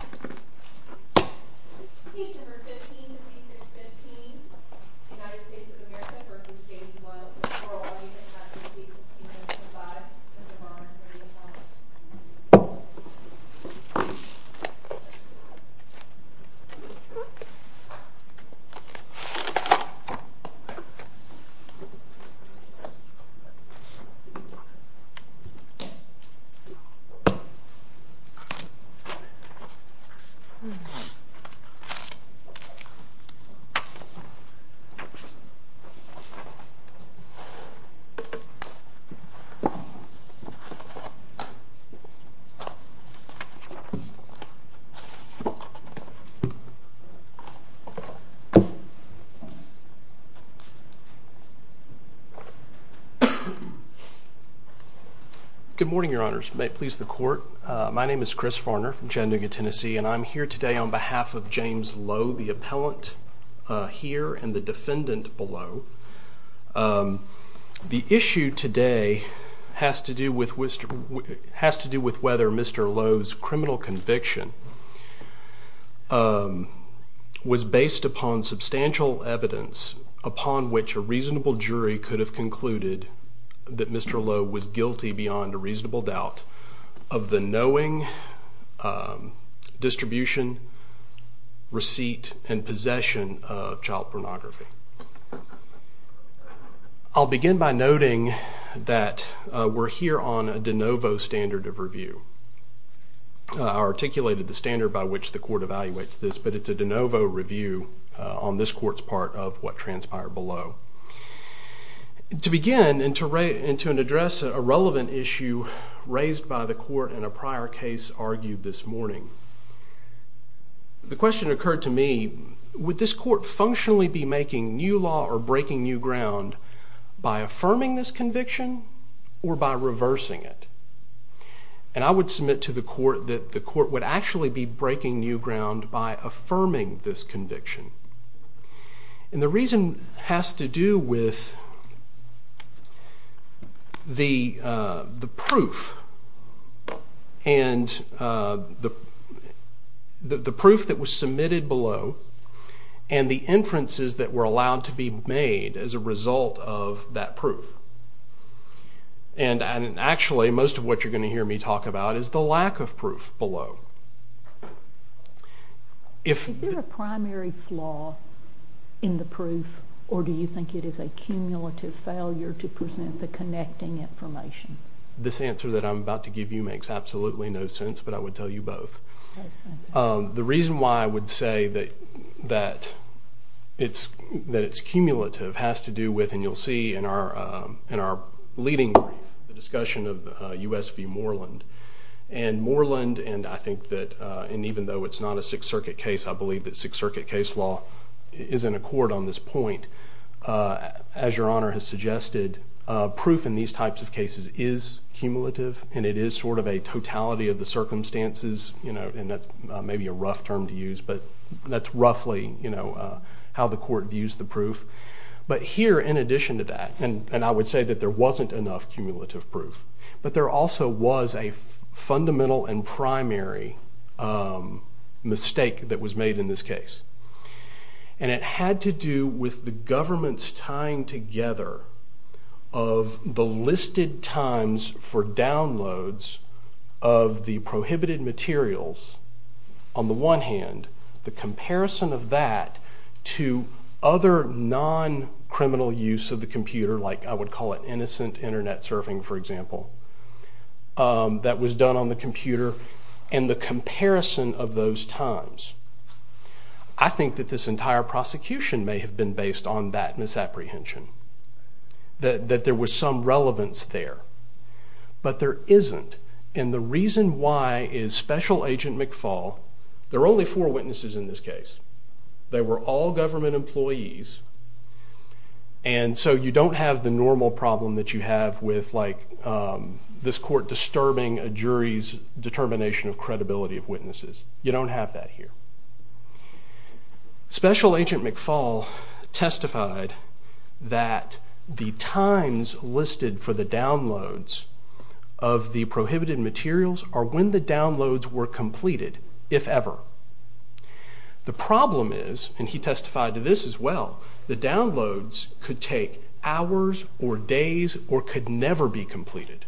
Case 15-2016 United States v. James Lowe Good morning, your honors. May it please the court. My name is Chris Farner from Chattanooga, Tennessee, and I'm here today on behalf of James Lowe, the appellant here and the defendant below. The issue today has to do with whether Mr. Lowe's criminal conviction was based upon substantial evidence upon which a reasonable jury could have concluded that Mr. Lowe was guilty beyond a reasonable doubt of the knowing, distribution, receipt, and possession of child pornography. I'll begin by noting that we're here on a de novo standard of review. I articulated the standard by which the court evaluates this, but it's a de novo review on this court's part of what transpired below. To begin and to address a relevant issue raised by the court in a prior case argued this morning, the question occurred to me, would this court functionally be making new law or breaking new ground by affirming this conviction or by reversing it? And I would submit to the court that the court would actually be breaking new ground by affirming this conviction. And the reason has to do with the proof and the proof that was submitted below and the inferences that were allowed to be made as a result of that proof. And actually, most of what you're going to hear me talk about is the lack of proof below. Is there a primary flaw in the proof or do you think it is a cumulative failure to present the connecting information? This answer that I'm about to give you makes absolutely no sense, but I would tell you both. The reason why I would say that it's cumulative has to do with, and you'll see in our leading discussion of the U.S. v. Moreland. And Moreland and I think the U.S. v. And even though it's not a Sixth Circuit case, I believe that Sixth Circuit case law is in accord on this point. As Your Honor has suggested, proof in these types of cases is cumulative and it is sort of a totality of the circumstances, and that's maybe a rough term to use, but that's roughly how the court views the proof. But here, in addition to that, and I would say that there wasn't enough cumulative proof, but there also was a fundamental and primary mistake that was made in this case. And it had to do with the government's tying together of the listed times for downloads of the prohibited materials. On the one hand, the comparison of that to other non-criminal use of the computer, like I would call it innocent internet surfing, for example, that was done on the computer, and the comparison of those times. I think that this entire prosecution may have been based on that misapprehension, that there was some relevance there, but there isn't. And the reason why is Special Agent McFaul, there are only four witnesses in this case, they were all government employees, and so you don't have the normal problem that you have with, like, this court disturbing a jury's determination of credibility of witnesses. You don't have that here. Special Agent McFaul testified that the times listed for the downloads of the prohibited materials are when the downloads were completed, if ever. The problem is, and he testified to this as well, the downloads could take hours or days or could never be completed.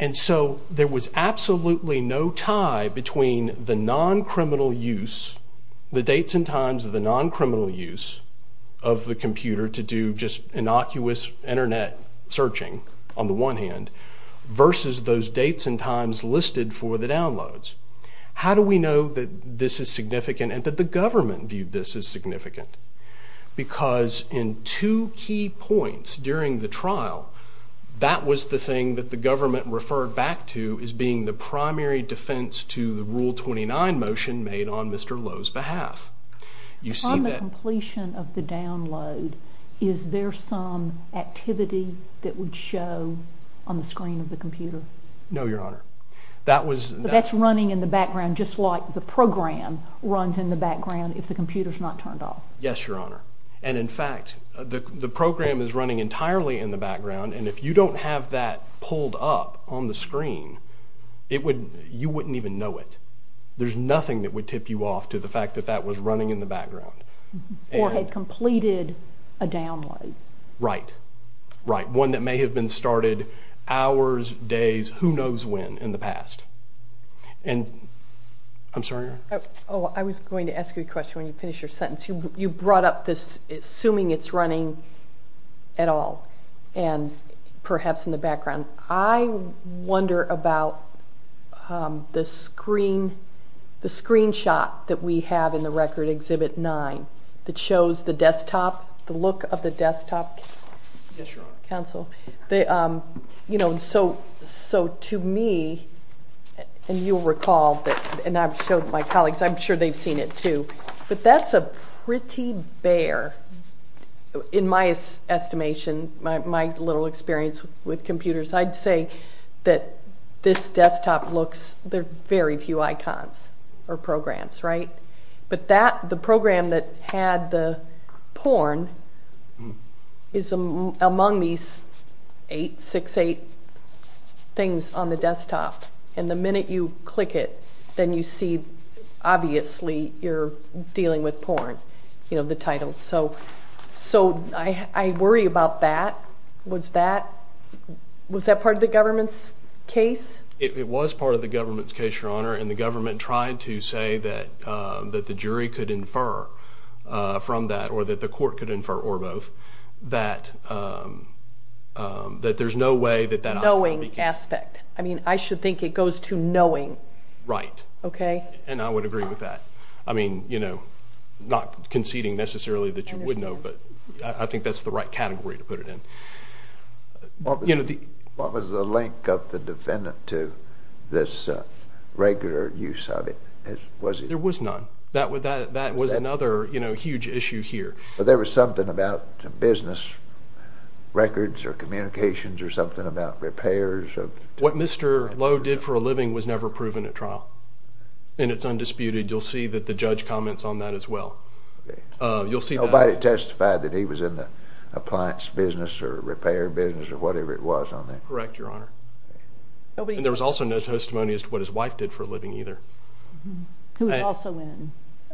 And so there was absolutely no tie between the non-criminal use, the dates and times of the non-criminal use of the computer to do just innocuous internet searching, on the one hand, versus those dates and times listed for the downloads. How do we know that this is significant and that the government viewed this as significant? Because in two key points during the trial, that was the thing that the government referred back to as being the primary defense to the Rule 29 motion made on Mr. Lowe's behalf. You see that- From the completion of the download, is there some activity that would show on the screen of the computer? No, Your Honor. That was- But that's running in the background just like the program runs in the background if the computer's not turned off. Yes, Your Honor. And in fact, the program is running entirely in the background. And if you don't have that pulled up on the screen, it would- you wouldn't even know it. There's nothing that would tip you off to the fact that that was running in the background. Or had completed a download. Right. Right. One that may have been started hours, days, who knows when, in the past. And- I'm sorry, Your Honor. Oh, I was going to ask you a question when you finish your sentence. You brought up this, assuming it's running at all. And perhaps in the background. I wonder about the screen- the screenshot that we have in the record, Exhibit 9, that shows the desktop, the look of the desktop. Yes, Your Honor. Counsel. You know, so to me, and you'll recall that- and I've showed my colleagues. I'm sure they've seen it too. But that's a pretty bare, in my estimation, my little experience with computers, I'd say that this desktop looks- there are very few icons or programs, right? But that- the program that had the porn is among these eight, six, eight things on the desktop. And the minute you click it, then you see, obviously, you're dealing with porn, you know, the title. So I worry about that. Was that part of the government's case? It was part of the government's case, Your Honor. And the government tried to say that the jury could infer from that, or that the court could infer, or both, that there's no way that that- Knowing aspect. I mean, I should think it goes to knowing. Right. Okay. And I would agree with that. I mean, you know, not conceding necessarily that you would know, but I think that's the right category to put it in. What was the link of the defendant to this regular use of it? Was it- There was none. That was another, you know, huge issue here. But there was something about the business records or communications or something about repairs of- What Mr. Lowe did for a living was never proven at trial, and it's undisputed. You'll see that the judge comments on that as well. You'll see that- Nobody testified that he was in the appliance business or repair business or whatever it was on there. Correct, Your Honor. And there was also no testimony as to what his wife did for a living either. Who was also in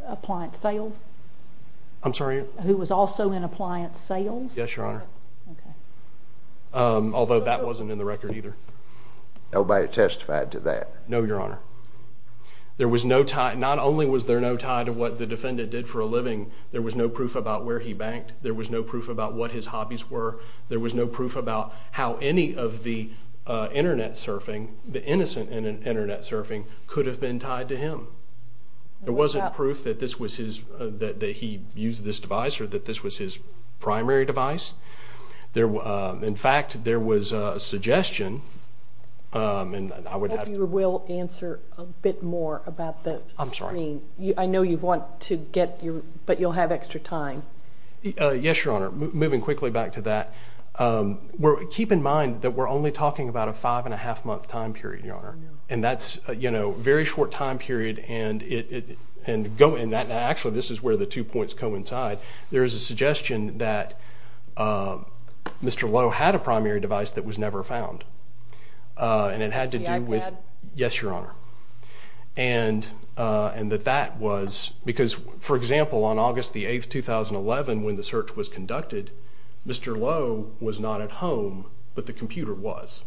appliance sales? I'm sorry? Who was also in appliance sales? Yes, Your Honor. Okay. Although that wasn't in the record either. Nobody testified to that. No, Your Honor. There was no tie- Not only was there no tie to what the defendant did for a living, there was no proof about where he banked. There was no proof about what his hobbies were. There was no proof about how any of the internet surfing, the innocent internet surfing, could have been tied to him. There wasn't proof that this was his- that he used this device or that this was his primary device. In fact, there was a suggestion, and I would have to- I hope you will answer a bit more about the screen. I'm sorry? I know you want to get your- but you'll have extra time. Yes, Your Honor. Moving quickly back to that, keep in mind that we're only talking about a five-and-a-half-month time period, Your Honor. And that's a very short time period, and actually, this is where the two points coincide. There is a suggestion that Mr. Lowe had a primary device that was never found, and it had to do with- Yes, Your Honor. And that that was- because, for example, on August the 8th, 2011, when the search was conducted, Mr. Lowe was not at home, but the computer was.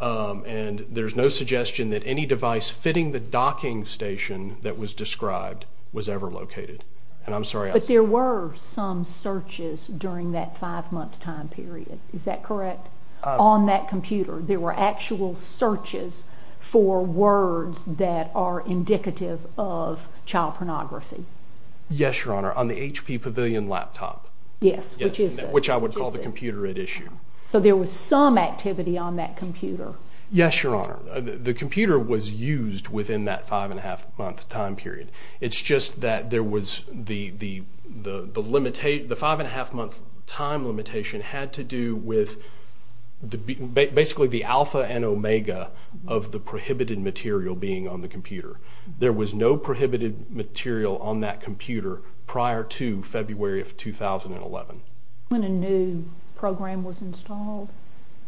And there's no suggestion that any device fitting the docking station that was described was ever located. And I'm sorry- But there were some searches during that five-month time period. Is that correct? On that computer, there were actual searches for words that are indicative of child pornography. Yes, Your Honor. On the HP Pavilion laptop. Yes, which is- Which I would call the computer at issue. So there was some activity on that computer. Yes, Your Honor. The computer was used within that five-and-a-half-month time period. It's just that there was the limitat- the five-and-a-half-month time limitation had to do with basically the alpha and omega of the prohibited material being on the computer. There was no prohibited material on that computer prior to February of 2011. When a new program was installed?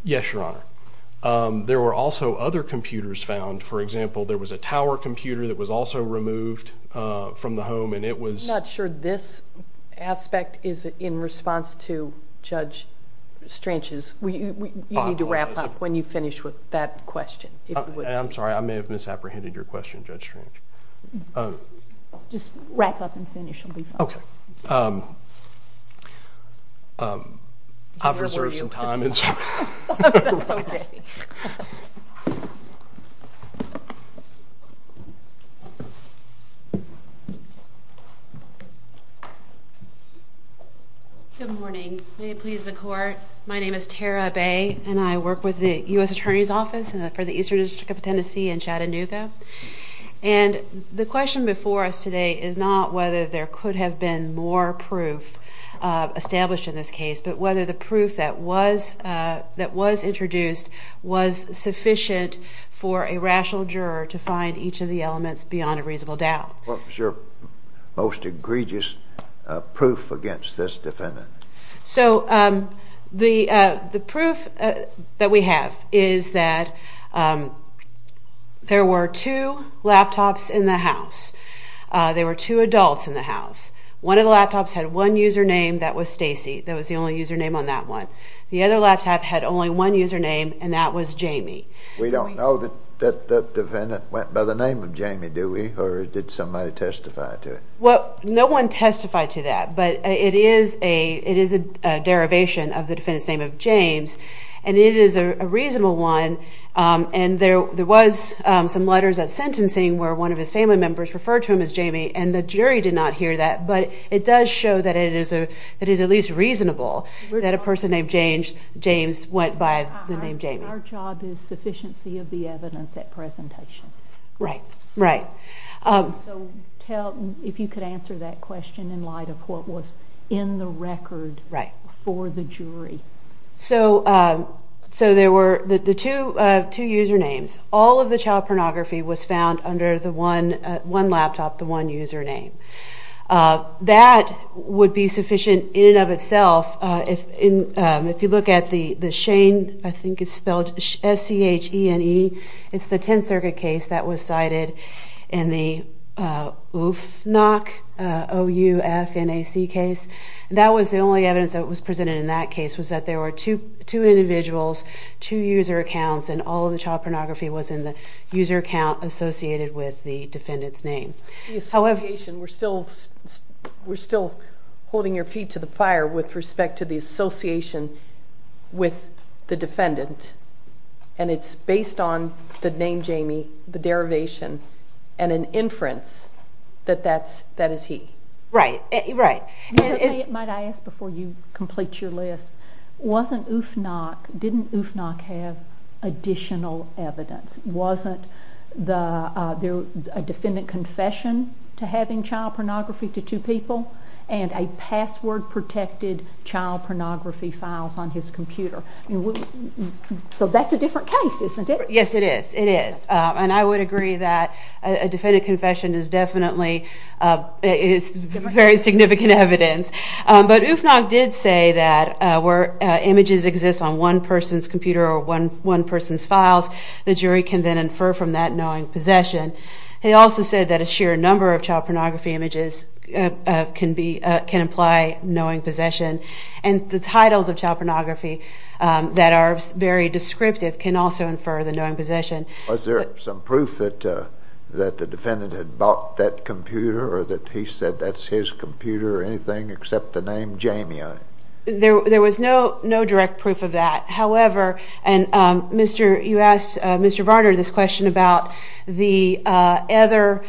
Yes, Your Honor. There were also other computers found. For example, there was a tower computer that was also removed from the home, and it was- I'm not sure this aspect is in response to Judge Strange's. You need to wrap up when you finish with that question. I'm sorry. I may have misapprehended your question, Judge Strange. Just wrap up and finish. You'll be fine. Okay. I've reserved some time, and so- That's okay. Good morning. May it please the Court. My name is Tara Bay, and I work with the U.S. Attorney's Office for the Eastern District of Tennessee in Chattanooga. And the question before us today is not whether there could have been more proof established in this case, but whether the proof that was introduced was sufficient for a rational juror to find each of the elements beyond a reasonable doubt. What was your most egregious proof against this defendant? So the proof that we have is that there were two laptops in the house. There were two adults in the house. One of the laptops had one username. That was Stacy. That was the only username on that one. The other laptop had only one username, and that was Jamie. We don't know that that defendant went by the name of Jamie, do we, or did somebody testify to it? Well, no one testified to that, but it is a derivation of the defendant's name of James, and it is a reasonable one. And there was some letters at sentencing where one of his family members referred to him as Jamie, and the jury did not hear that, but it does show that it is at least reasonable that a person named James went by the name Jamie. Our job is sufficiency of the evidence at presentation. Right, right. So if you could answer that question in light of what was in the record for the jury. So there were the two usernames. All of the child pornography was found under the one laptop, the one username. That would be sufficient in and of itself. If you look at the Shane, I think it's spelled S-C-H-E-N-E, it's the 10th Circuit case that was cited in the OUFNAC case. That was the only evidence that was presented in that case was that there were two individuals, two user accounts, and all of the child pornography was in the user account associated with the defendant's name. The association, we're still holding your feet to the fire with respect to the association with the defendant, and it's based on the name Jamie, the derivation, and an inference that that is he. Right, right. Might I ask before you complete your list, wasn't OUFNAC, didn't OUFNAC have additional evidence? Wasn't there a defendant confession to having child pornography to two people and a password-protected child pornography files on his computer? So that's a different case, isn't it? Yes, it is. It is. And I would agree that a defendant confession is definitely very significant evidence. But OUFNAC did say that where images exist on one person's computer or one person's files, the jury can then infer from that knowing possession. He also said that a sheer number of child pornography images can imply knowing possession. And the titles of child pornography that are very descriptive can also infer the knowing possession. Was there some proof that the defendant had bought that computer or that he said that's his computer or anything except the name Jamie on it? There was no direct proof of that. However, and you asked Mr. Varner this question about the innocent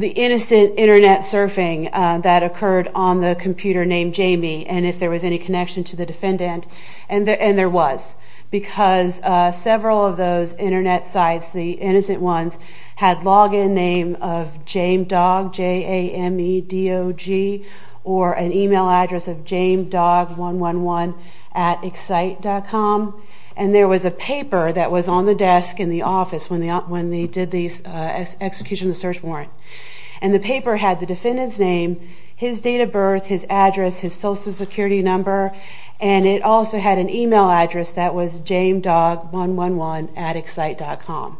internet surfing that occurred on the computer named Jamie and if there was any connection to the defendant. And there was. Because several of those internet sites, the innocent ones, had login name of jamedog, J-A-M-E-D-O-G, or an email address of jamedog111 at excite.com. And there was a paper that was on the desk in the office when they did the execution of the search warrant. And the paper had the defendant's name, his date of birth, his address, his social security number, and it also had an email address that was jamedog111 at excite.com.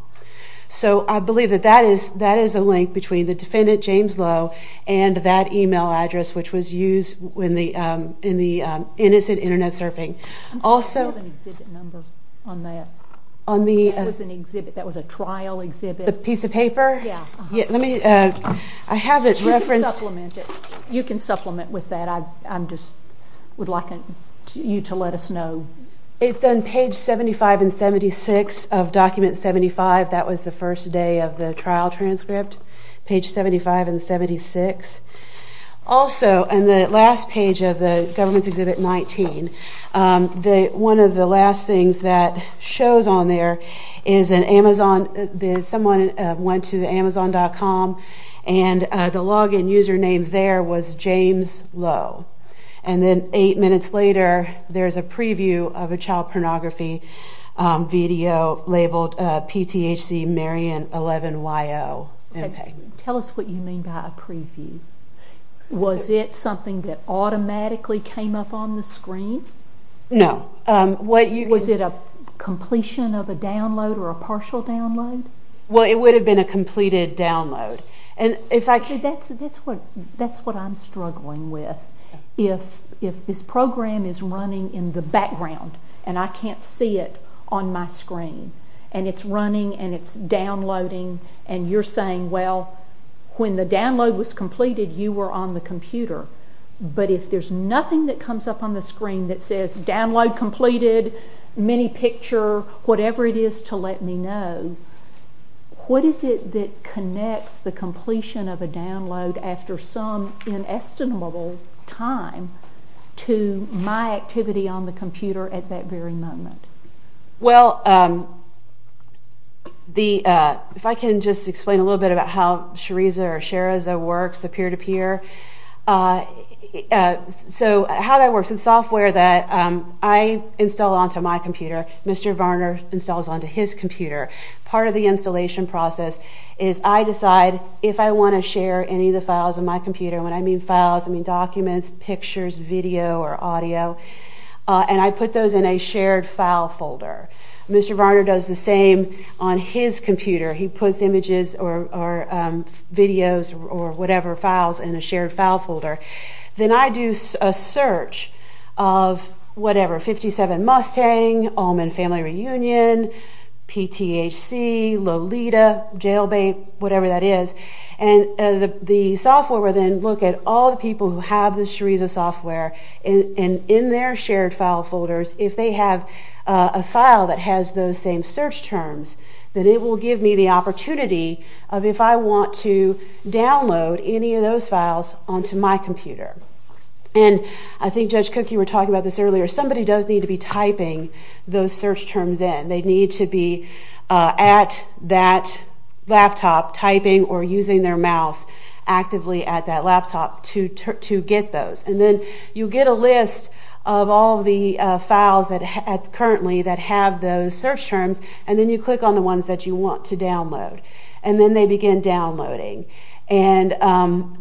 So I believe that that is a link between the defendant, James Lowe, and that email address, which was used in the innocent internet surfing. I'm sorry, I don't have an exhibit number on that. That was an exhibit. That was a trial exhibit. The piece of paper? Yeah. Let me, I have it referenced. You can supplement with that. I just would like you to let us know. It's on page 75 and 76 of document 75. That was the first day of the trial transcript, page 75 and 76. Also, on the last page of the government's exhibit 19, the one of the last things that shows on there is an Amazon. Someone went to the amazon.com, and the login username there was James Lowe. And then eight minutes later, there's a preview of a child pornography video labeled PTHC Marion 11YO. Tell us what you mean by a preview. Was it something that automatically came up on the screen? No. Was it a completion of a download or a partial download? Well, it would have been a completed download. And if I could. That's what I'm struggling with. If this program is running in the background, and I can't see it on my screen, and it's running and it's downloading, and you're saying, well, when the download was completed, you were on the computer. But if there's nothing that comes up on the screen that says download completed, mini picture, whatever it is to let me know, what is it that connects the completion of a download after some inestimable time to my activity on the computer at that very moment? Well, if I can just explain a little bit about how Shareeza works, the peer-to-peer. So how that works, the software that I install onto my computer, Mr. Varner installs onto his computer. Part of the installation process is I decide if I want to share any of the files on my computer. And when I mean files, I mean documents, pictures, video, or audio. And I put those in a shared file folder. Mr. Varner does the same on his computer. He puts images or videos or whatever files in a shared file folder. Then I do a search of whatever, 57 Mustang, Allman Family Reunion, PTHC, Lolita, Jailbait, whatever that is. And the software will then look at all the people who have the Shareeza software. And in their shared file folders, if they have a file that has those same search terms, then it will give me the opportunity of if I want to download any of those files onto my computer. And I think Judge Cooke, you were talking about this earlier. Somebody does need to be typing those search terms in. They need to be at that laptop typing or using their mouse actively at that laptop to get those. And then you get a list of all the files currently that have those search terms. And then you click on the ones that you want to download. And then they begin downloading. And while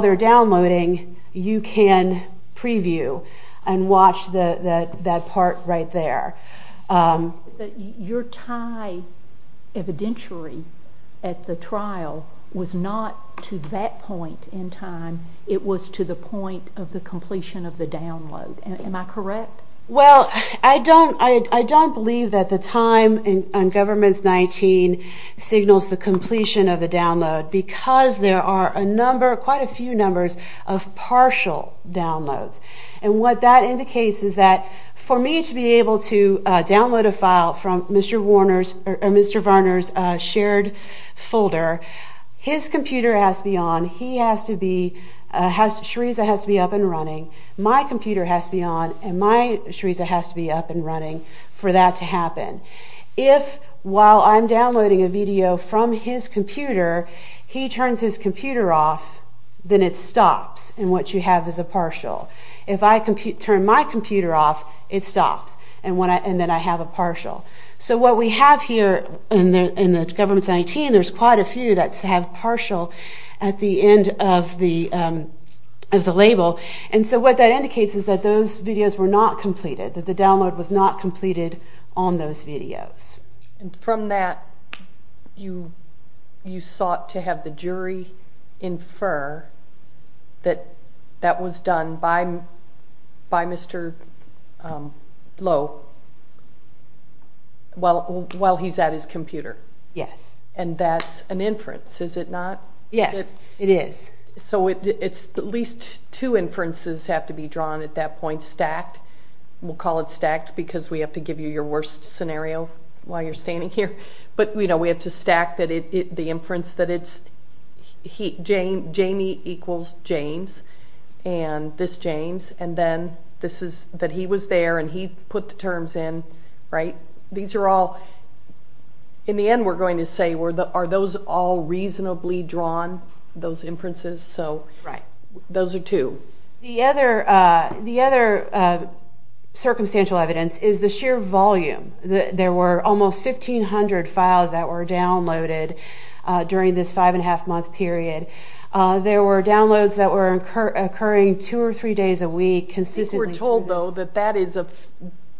they're downloading, you can preview and watch that part right there. But your time evidentiary at the trial was not to that point in time. It was to the point of the completion of the download. Am I correct? Well, I don't believe that the time on Governments 19 signals the completion of the download because there are a number, quite a few numbers, of partial downloads. And what that indicates is that for me to be able to download a file from Mr. Warner's shared folder, his computer has to be on. He has to be, Shariza has to be up and running. My computer has to be on. And my Shariza has to be up and running for that to happen. If while I'm downloading a video from his computer, he turns his computer off, then it stops. And what you have is a partial. If I turn my computer off, it stops. And then I have a partial. So what we have here in the Governments 19, there's quite a few that have partial at the end of the label. And so what that indicates is that those videos were not completed, that the download was not completed on those videos. From that, you sought to have the jury infer that that was done by Mr. Lowe while he's at his computer. Yes. And that's an inference, is it not? Yes, it is. So it's at least two inferences have to be drawn at that point, stacked. We'll call it stacked because we have to give you your worst scenario while you're standing here. But we have to stack the inference that it's Jamie equals James and this James. And then this is that he was there and he put the terms in, right? These are all, in the end, we're going to say, are those all reasonably drawn, those inferences? So those are two. The other circumstantial evidence is the sheer volume. There were almost 1,500 files that were downloaded during this 5 and 1⁄2 month period. There were downloads that were occurring two or three days a week consistently through this. I think we're told, though, that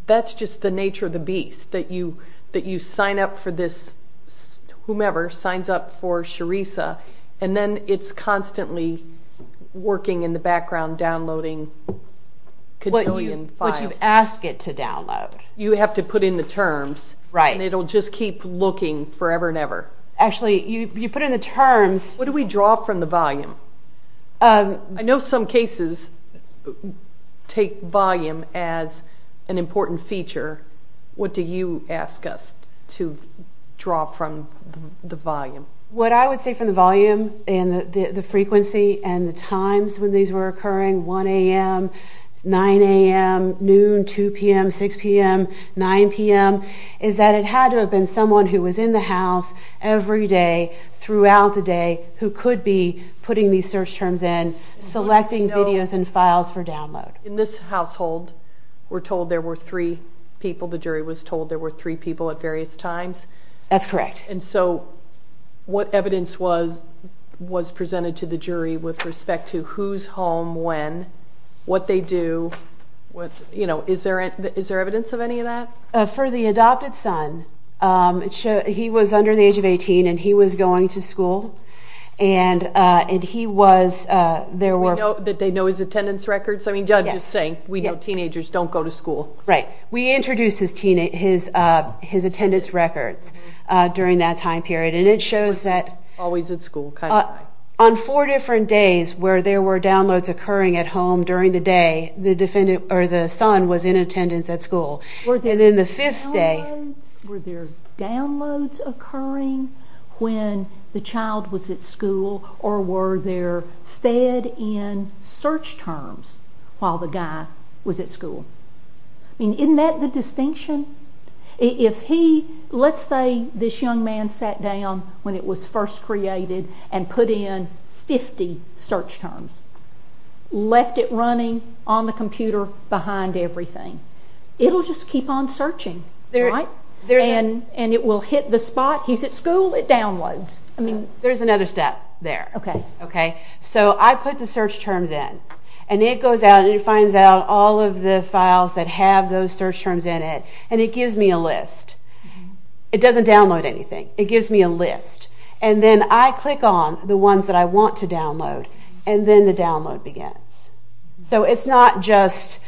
that's just the nature of the beast, that you sign up for this, whomever signs up for Charisa. And then it's constantly working in the background, downloading a gazillion files. But you ask it to download. You have to put in the terms, and it'll just keep looking forever and ever. Actually, you put in the terms. What do we draw from the volume? I know some cases take volume as an important feature. What do you ask us to draw from the volume? What I would say from the volume and the frequency and the times when these were occurring, 1 AM, 9 AM, noon, 2 PM, 6 PM, 9 PM, is that it had to have been someone who was in the house every day, throughout the day, who could be putting these search terms in, selecting videos and files for download. In this household, we're told there were three people. The jury was told there were three people at various times. That's correct. And so what evidence was presented to the jury with respect to who's home when, what they do, you know, is there evidence of any of that? For the adopted son, he was under the age of 18, and he was going to school. And he was, there were... That they know his attendance records? I mean, Judge is saying, we know teenagers don't go to school. Right. We introduced his attendance records during that time period. And it shows that... Always at school, kind of high. On four different days where there were downloads occurring at home during the day, the defendant, or the son, was in attendance at school. And then the fifth day... Were there downloads occurring when the child was at school, or were there fed-in search terms while the guy was at school? I mean, isn't that the distinction? If he, let's say this young man sat down when it was first created and put in 50 search terms, left it running on the computer behind everything, it'll just keep on searching, right? There's a... And it will hit the spot. He's at school, it downloads. I mean... There's another step there. Okay. Okay. So, I put the search terms in. And it goes out and it finds out all of the files that have those search terms in it. And it gives me a list. It doesn't download anything. It gives me a list. And then I click on the ones that I want to download. And then the download begins. So, it's not just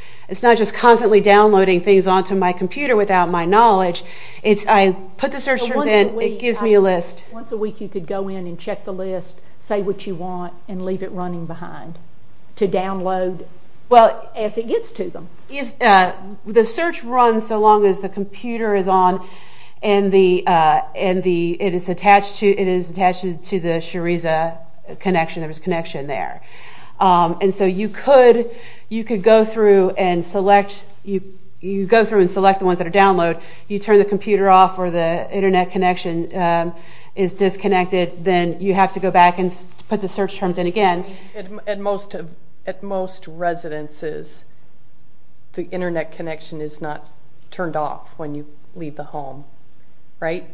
constantly downloading things onto my computer without my knowledge. It's I put the search terms in, it gives me a list. Once a week, you could go in and check the list, say what you want, and leave it running behind to download. Well, as it gets to them. The search runs so long as the computer is on and it is attached to the Shariza connection. There's a connection there. And so, you could go through and select... You go through and select the ones that are downloaded. You turn the computer off or the internet connection is disconnected. Then you have to go back and put the search terms in again. At most residences, the internet connection is not turned off when you leave the home, right?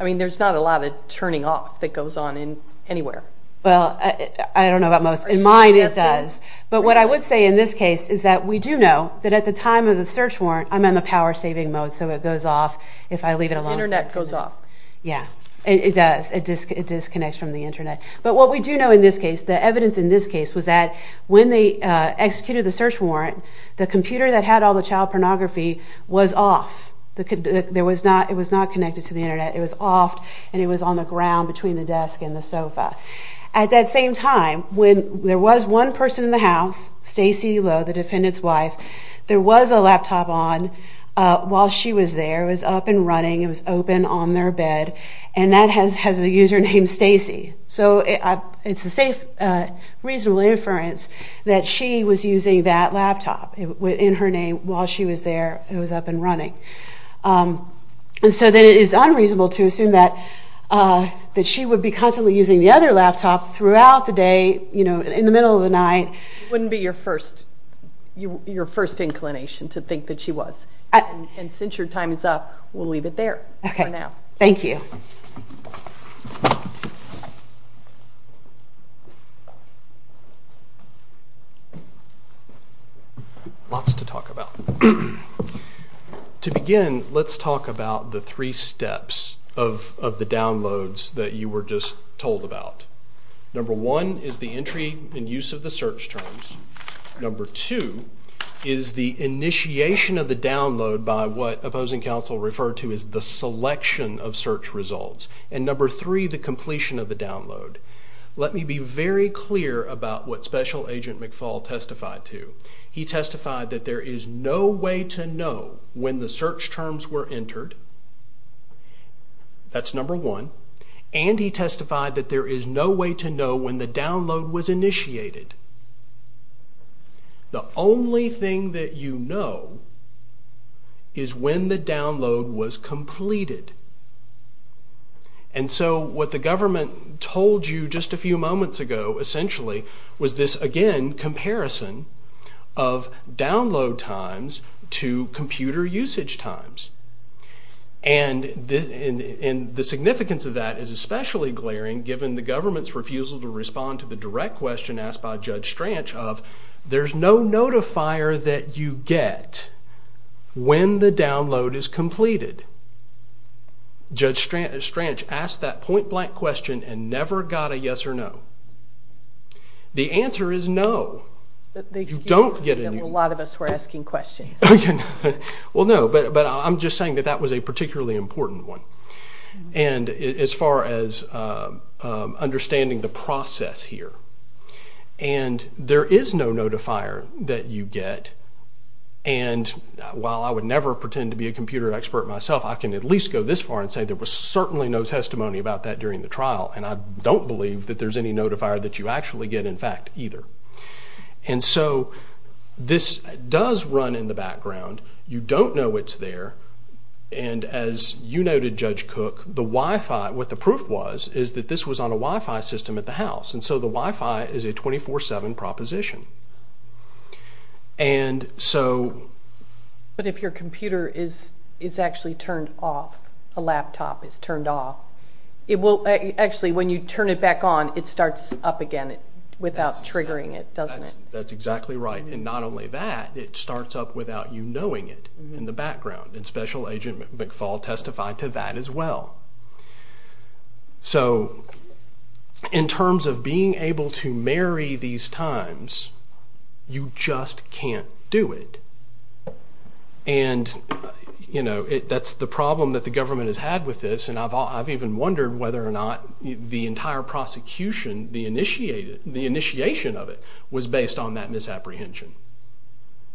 I mean, there's not a lot of turning off that goes on in anywhere. Well, I don't know about most. In mine, it does. But what I would say in this case is that we do know that at the time of the search warrant, I'm on the power saving mode. So, it goes off if I leave it alone. Internet goes off. Yeah, it does. It disconnects from the internet. But what we do know in this case, the evidence in this case was that when they executed the search warrant, the computer that had all the child pornography was off. It was not connected to the internet. It was off and it was on the ground between the desk and the sofa. At that same time, when there was one person in the house, Stacey Lowe, the defendant's wife, there was a laptop on while she was there. It was up and running. It was open on their bed. And that has a username, Stacey. So, it's a safe, reasonable inference that she was using that laptop in her name while she was there, it was up and running. And so, that it is unreasonable to assume that she would be constantly using the other laptop throughout the day, in the middle of the night. Wouldn't be your first inclination to think that she was. And since your time is up, we'll leave it there for now. Thank you. Lots to talk about. To begin, let's talk about the three steps of the downloads that you were just told about. Number one is the entry and use of the search terms. Number two is the initiation of the download by what opposing counsel referred to as the selection of search results. And number three, the completion of the download. Let me be very clear about what special agents McFall testified to. He testified that there is no way to know when the search terms were entered. That's number one. And he testified that there is no way to know when the download was initiated. The only thing that you know is when the download was completed. And so, what the government told you just a few moments ago, essentially, was this, again, comparison of download times to computer usage times. And the significance of that is especially glaring given the government's refusal to respond to the direct question asked by Judge Stranch of, there's no notifier that you get when the download is completed. Judge Stranch asked that point blank question and never got a yes or no. The answer is no. You don't get any. A lot of us were asking questions. Well, no, but I'm just saying that that was a particularly important one. And as far as understanding the process here, and there is no notifier that you get. And while I would never pretend to be a computer expert myself, I can at least go this far and say there was certainly no testimony about that during the trial. And I don't believe that there's any notifier that you actually get, in fact, either. And so this does run in the background. You don't know it's there. And as you noted, Judge Cook, the Wi-Fi, what the proof was is that this was on a Wi-Fi system at the house. And so the Wi-Fi is a 24-7 proposition. And so- But if your computer is actually turned off, a laptop is turned off, it will, actually, when you turn it back on, it starts up again without triggering it, doesn't it? That's exactly right. And not only that, it starts up without you knowing it in the background. And Special Agent McFaul testified to that as well. So in terms of being able to marry these times, you just can't do it. And, you know, that's the problem that the government has had with this. And I've even wondered whether or not the entire prosecution, the initiation of it, was based on that misapprehension,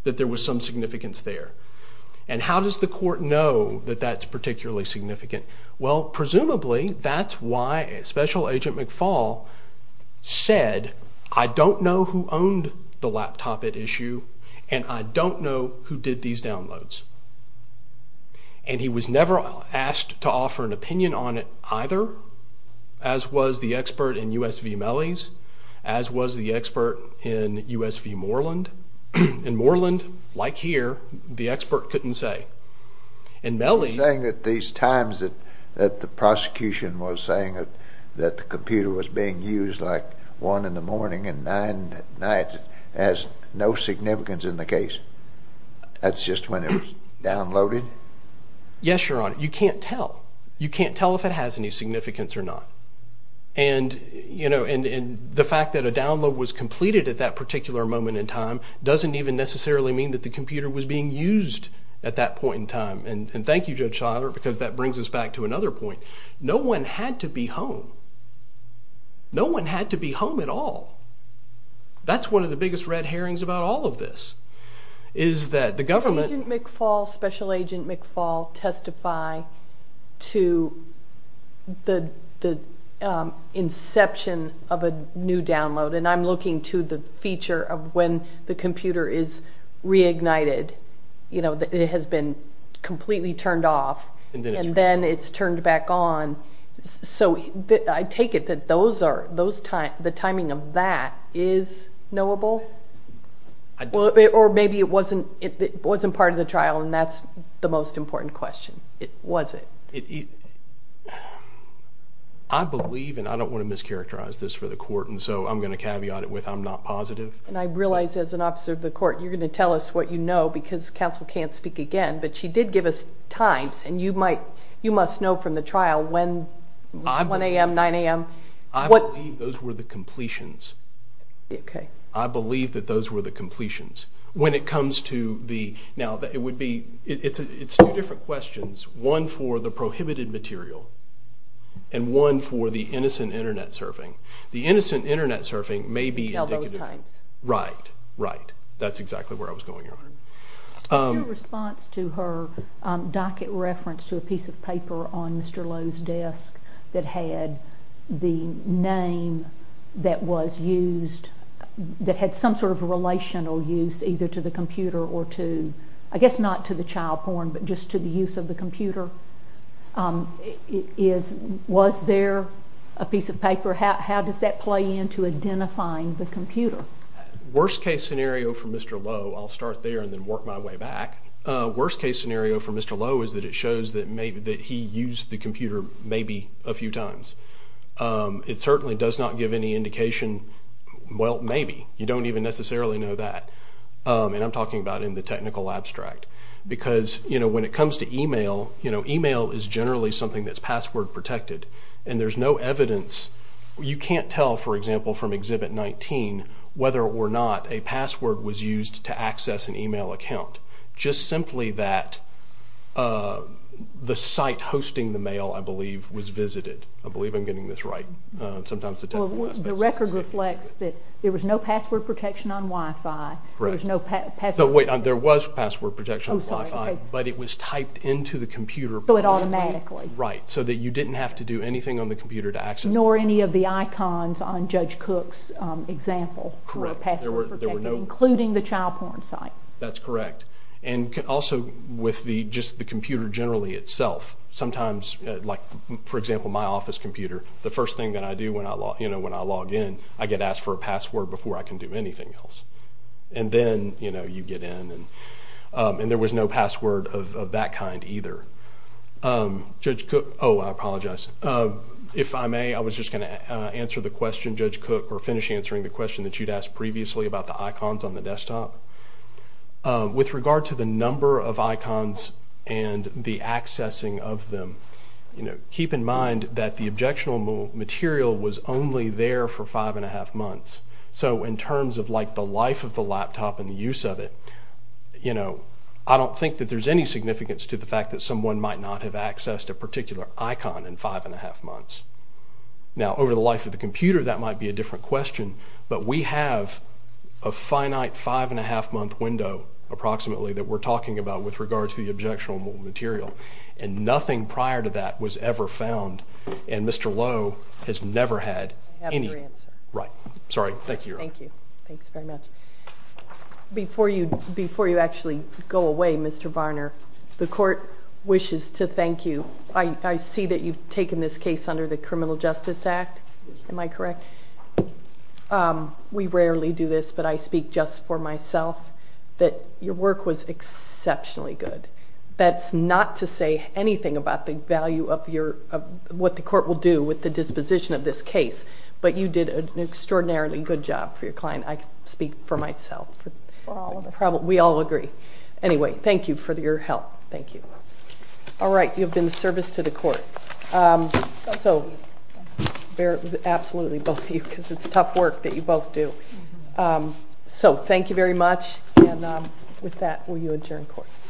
that there was some significance there. And how does the court know that that's particularly significant? Well, presumably, that's why Special Agent McFaul said, I don't know who owned the laptop at issue, and I don't know who did these downloads. And he was never asked to offer an opinion on it either. As was the expert in USV Mellie's, as was the expert in USV Moreland. In Moreland, like here, the expert couldn't say. In Mellie's- You're saying that these times that the prosecution was saying that the computer was being used like one in the morning and nine at night has no significance in the case. That's just when it was downloaded? Yes, Your Honor. You can't tell. You can't tell if it has any significance or not. And the fact that a download was completed at that particular moment in time doesn't even necessarily mean that the computer was being used at that point in time. And thank you, Judge Schuyler, because that brings us back to another point. No one had to be home. No one had to be home at all. That's one of the biggest red herrings about all of this, is that the government- Did McFaul, Special Agent McFaul, testify to the inception of a new download? And I'm looking to the feature of when the computer is reignited, you know, that it has been completely turned off, and then it's turned back on. So I take it that the timing of that is knowable? Or maybe it wasn't part of the trial and that's the most important question. It wasn't. I believe, and I don't want to mischaracterize this for the court, and so I'm going to caveat it with I'm not positive. And I realize, as an officer of the court, you're going to tell us what you know, because counsel can't speak again, but she did give us times, and you must know from the trial when, 1 a.m., 9 a.m. I believe those were the completions. Okay. I believe that those were the completions. When it comes to the, now, it would be, it's two different questions, one for the prohibited material, and one for the innocent internet surfing. The innocent internet surfing may be indicative. Tell both times. Right, right. That's exactly where I was going on. Your response to her docket reference to a piece of paper on Mr. Lowe's desk that had the name that was used, that had some sort of relational use, either to the computer or to, I guess not to the child porn, but just to the use of the computer. Was there a piece of paper? How does that play into identifying the computer? Worst case scenario for Mr. Lowe, I'll start there and then work my way back. Worst case scenario for Mr. Lowe is that it shows that he used the computer maybe a few times. It certainly does not give any indication, well, maybe. You don't even necessarily know that. And I'm talking about in the technical abstract. Because when it comes to email, email is generally something that's password protected. And there's no evidence, you can't tell, for example, from Exhibit 19, whether or not a password was used to access an email account. Just simply that the site hosting the mail, I believe, was visited. I believe I'm getting this right. Sometimes the technical aspects. The record reflects that there was no password protection on Wi-Fi, there was no password protection. There was password protection on Wi-Fi, but it was typed into the computer. So it automatically. Right, so that you didn't have to do anything on the computer to access it. Nor any of the icons on Judge Cook's example for a password protection, including the child porn site. That's correct. And also with just the computer generally itself, sometimes, like for example, my office computer, the first thing that I do when I log in, I get asked for a password before I can do anything else. And then you get in. And there was no password of that kind either. Judge Cook, oh, I apologize. If I may, I was just gonna answer the question, Judge Cook, or finish answering the question that you'd asked previously about the icons on the desktop. With regard to the number of icons and the accessing of them, keep in mind that the objectionable material was only there for five and a half months. So in terms of the life of the laptop and the use of it, I don't think that there's any significance to the fact that someone might not have accessed a particular icon in five and a half months. Now, over the life of the computer, that might be a different question, but we have a finite five and a half month window, approximately, that we're talking about with regard to the objectionable material. And nothing prior to that was ever found. And Mr. Lowe has never had any. I have your answer. Sorry, thank you, Your Honor. Thank you. Thanks very much. Before you actually go away, Mr. Varner, the court wishes to thank you. I see that you've taken this case under the Criminal Justice Act. Am I correct? We rarely do this, but I speak just for myself that your work was exceptionally good. That's not to say anything about the value of what the court will do with the disposition of this case, but you did an extraordinarily good job for your client. I speak for myself. For all of us. We all agree. Anyway, thank you for your help. Thank you. All right, you have been of service to the court. So, absolutely, both of you, because it's tough work that you both do. So thank you very much. And with that, will you adjourn court?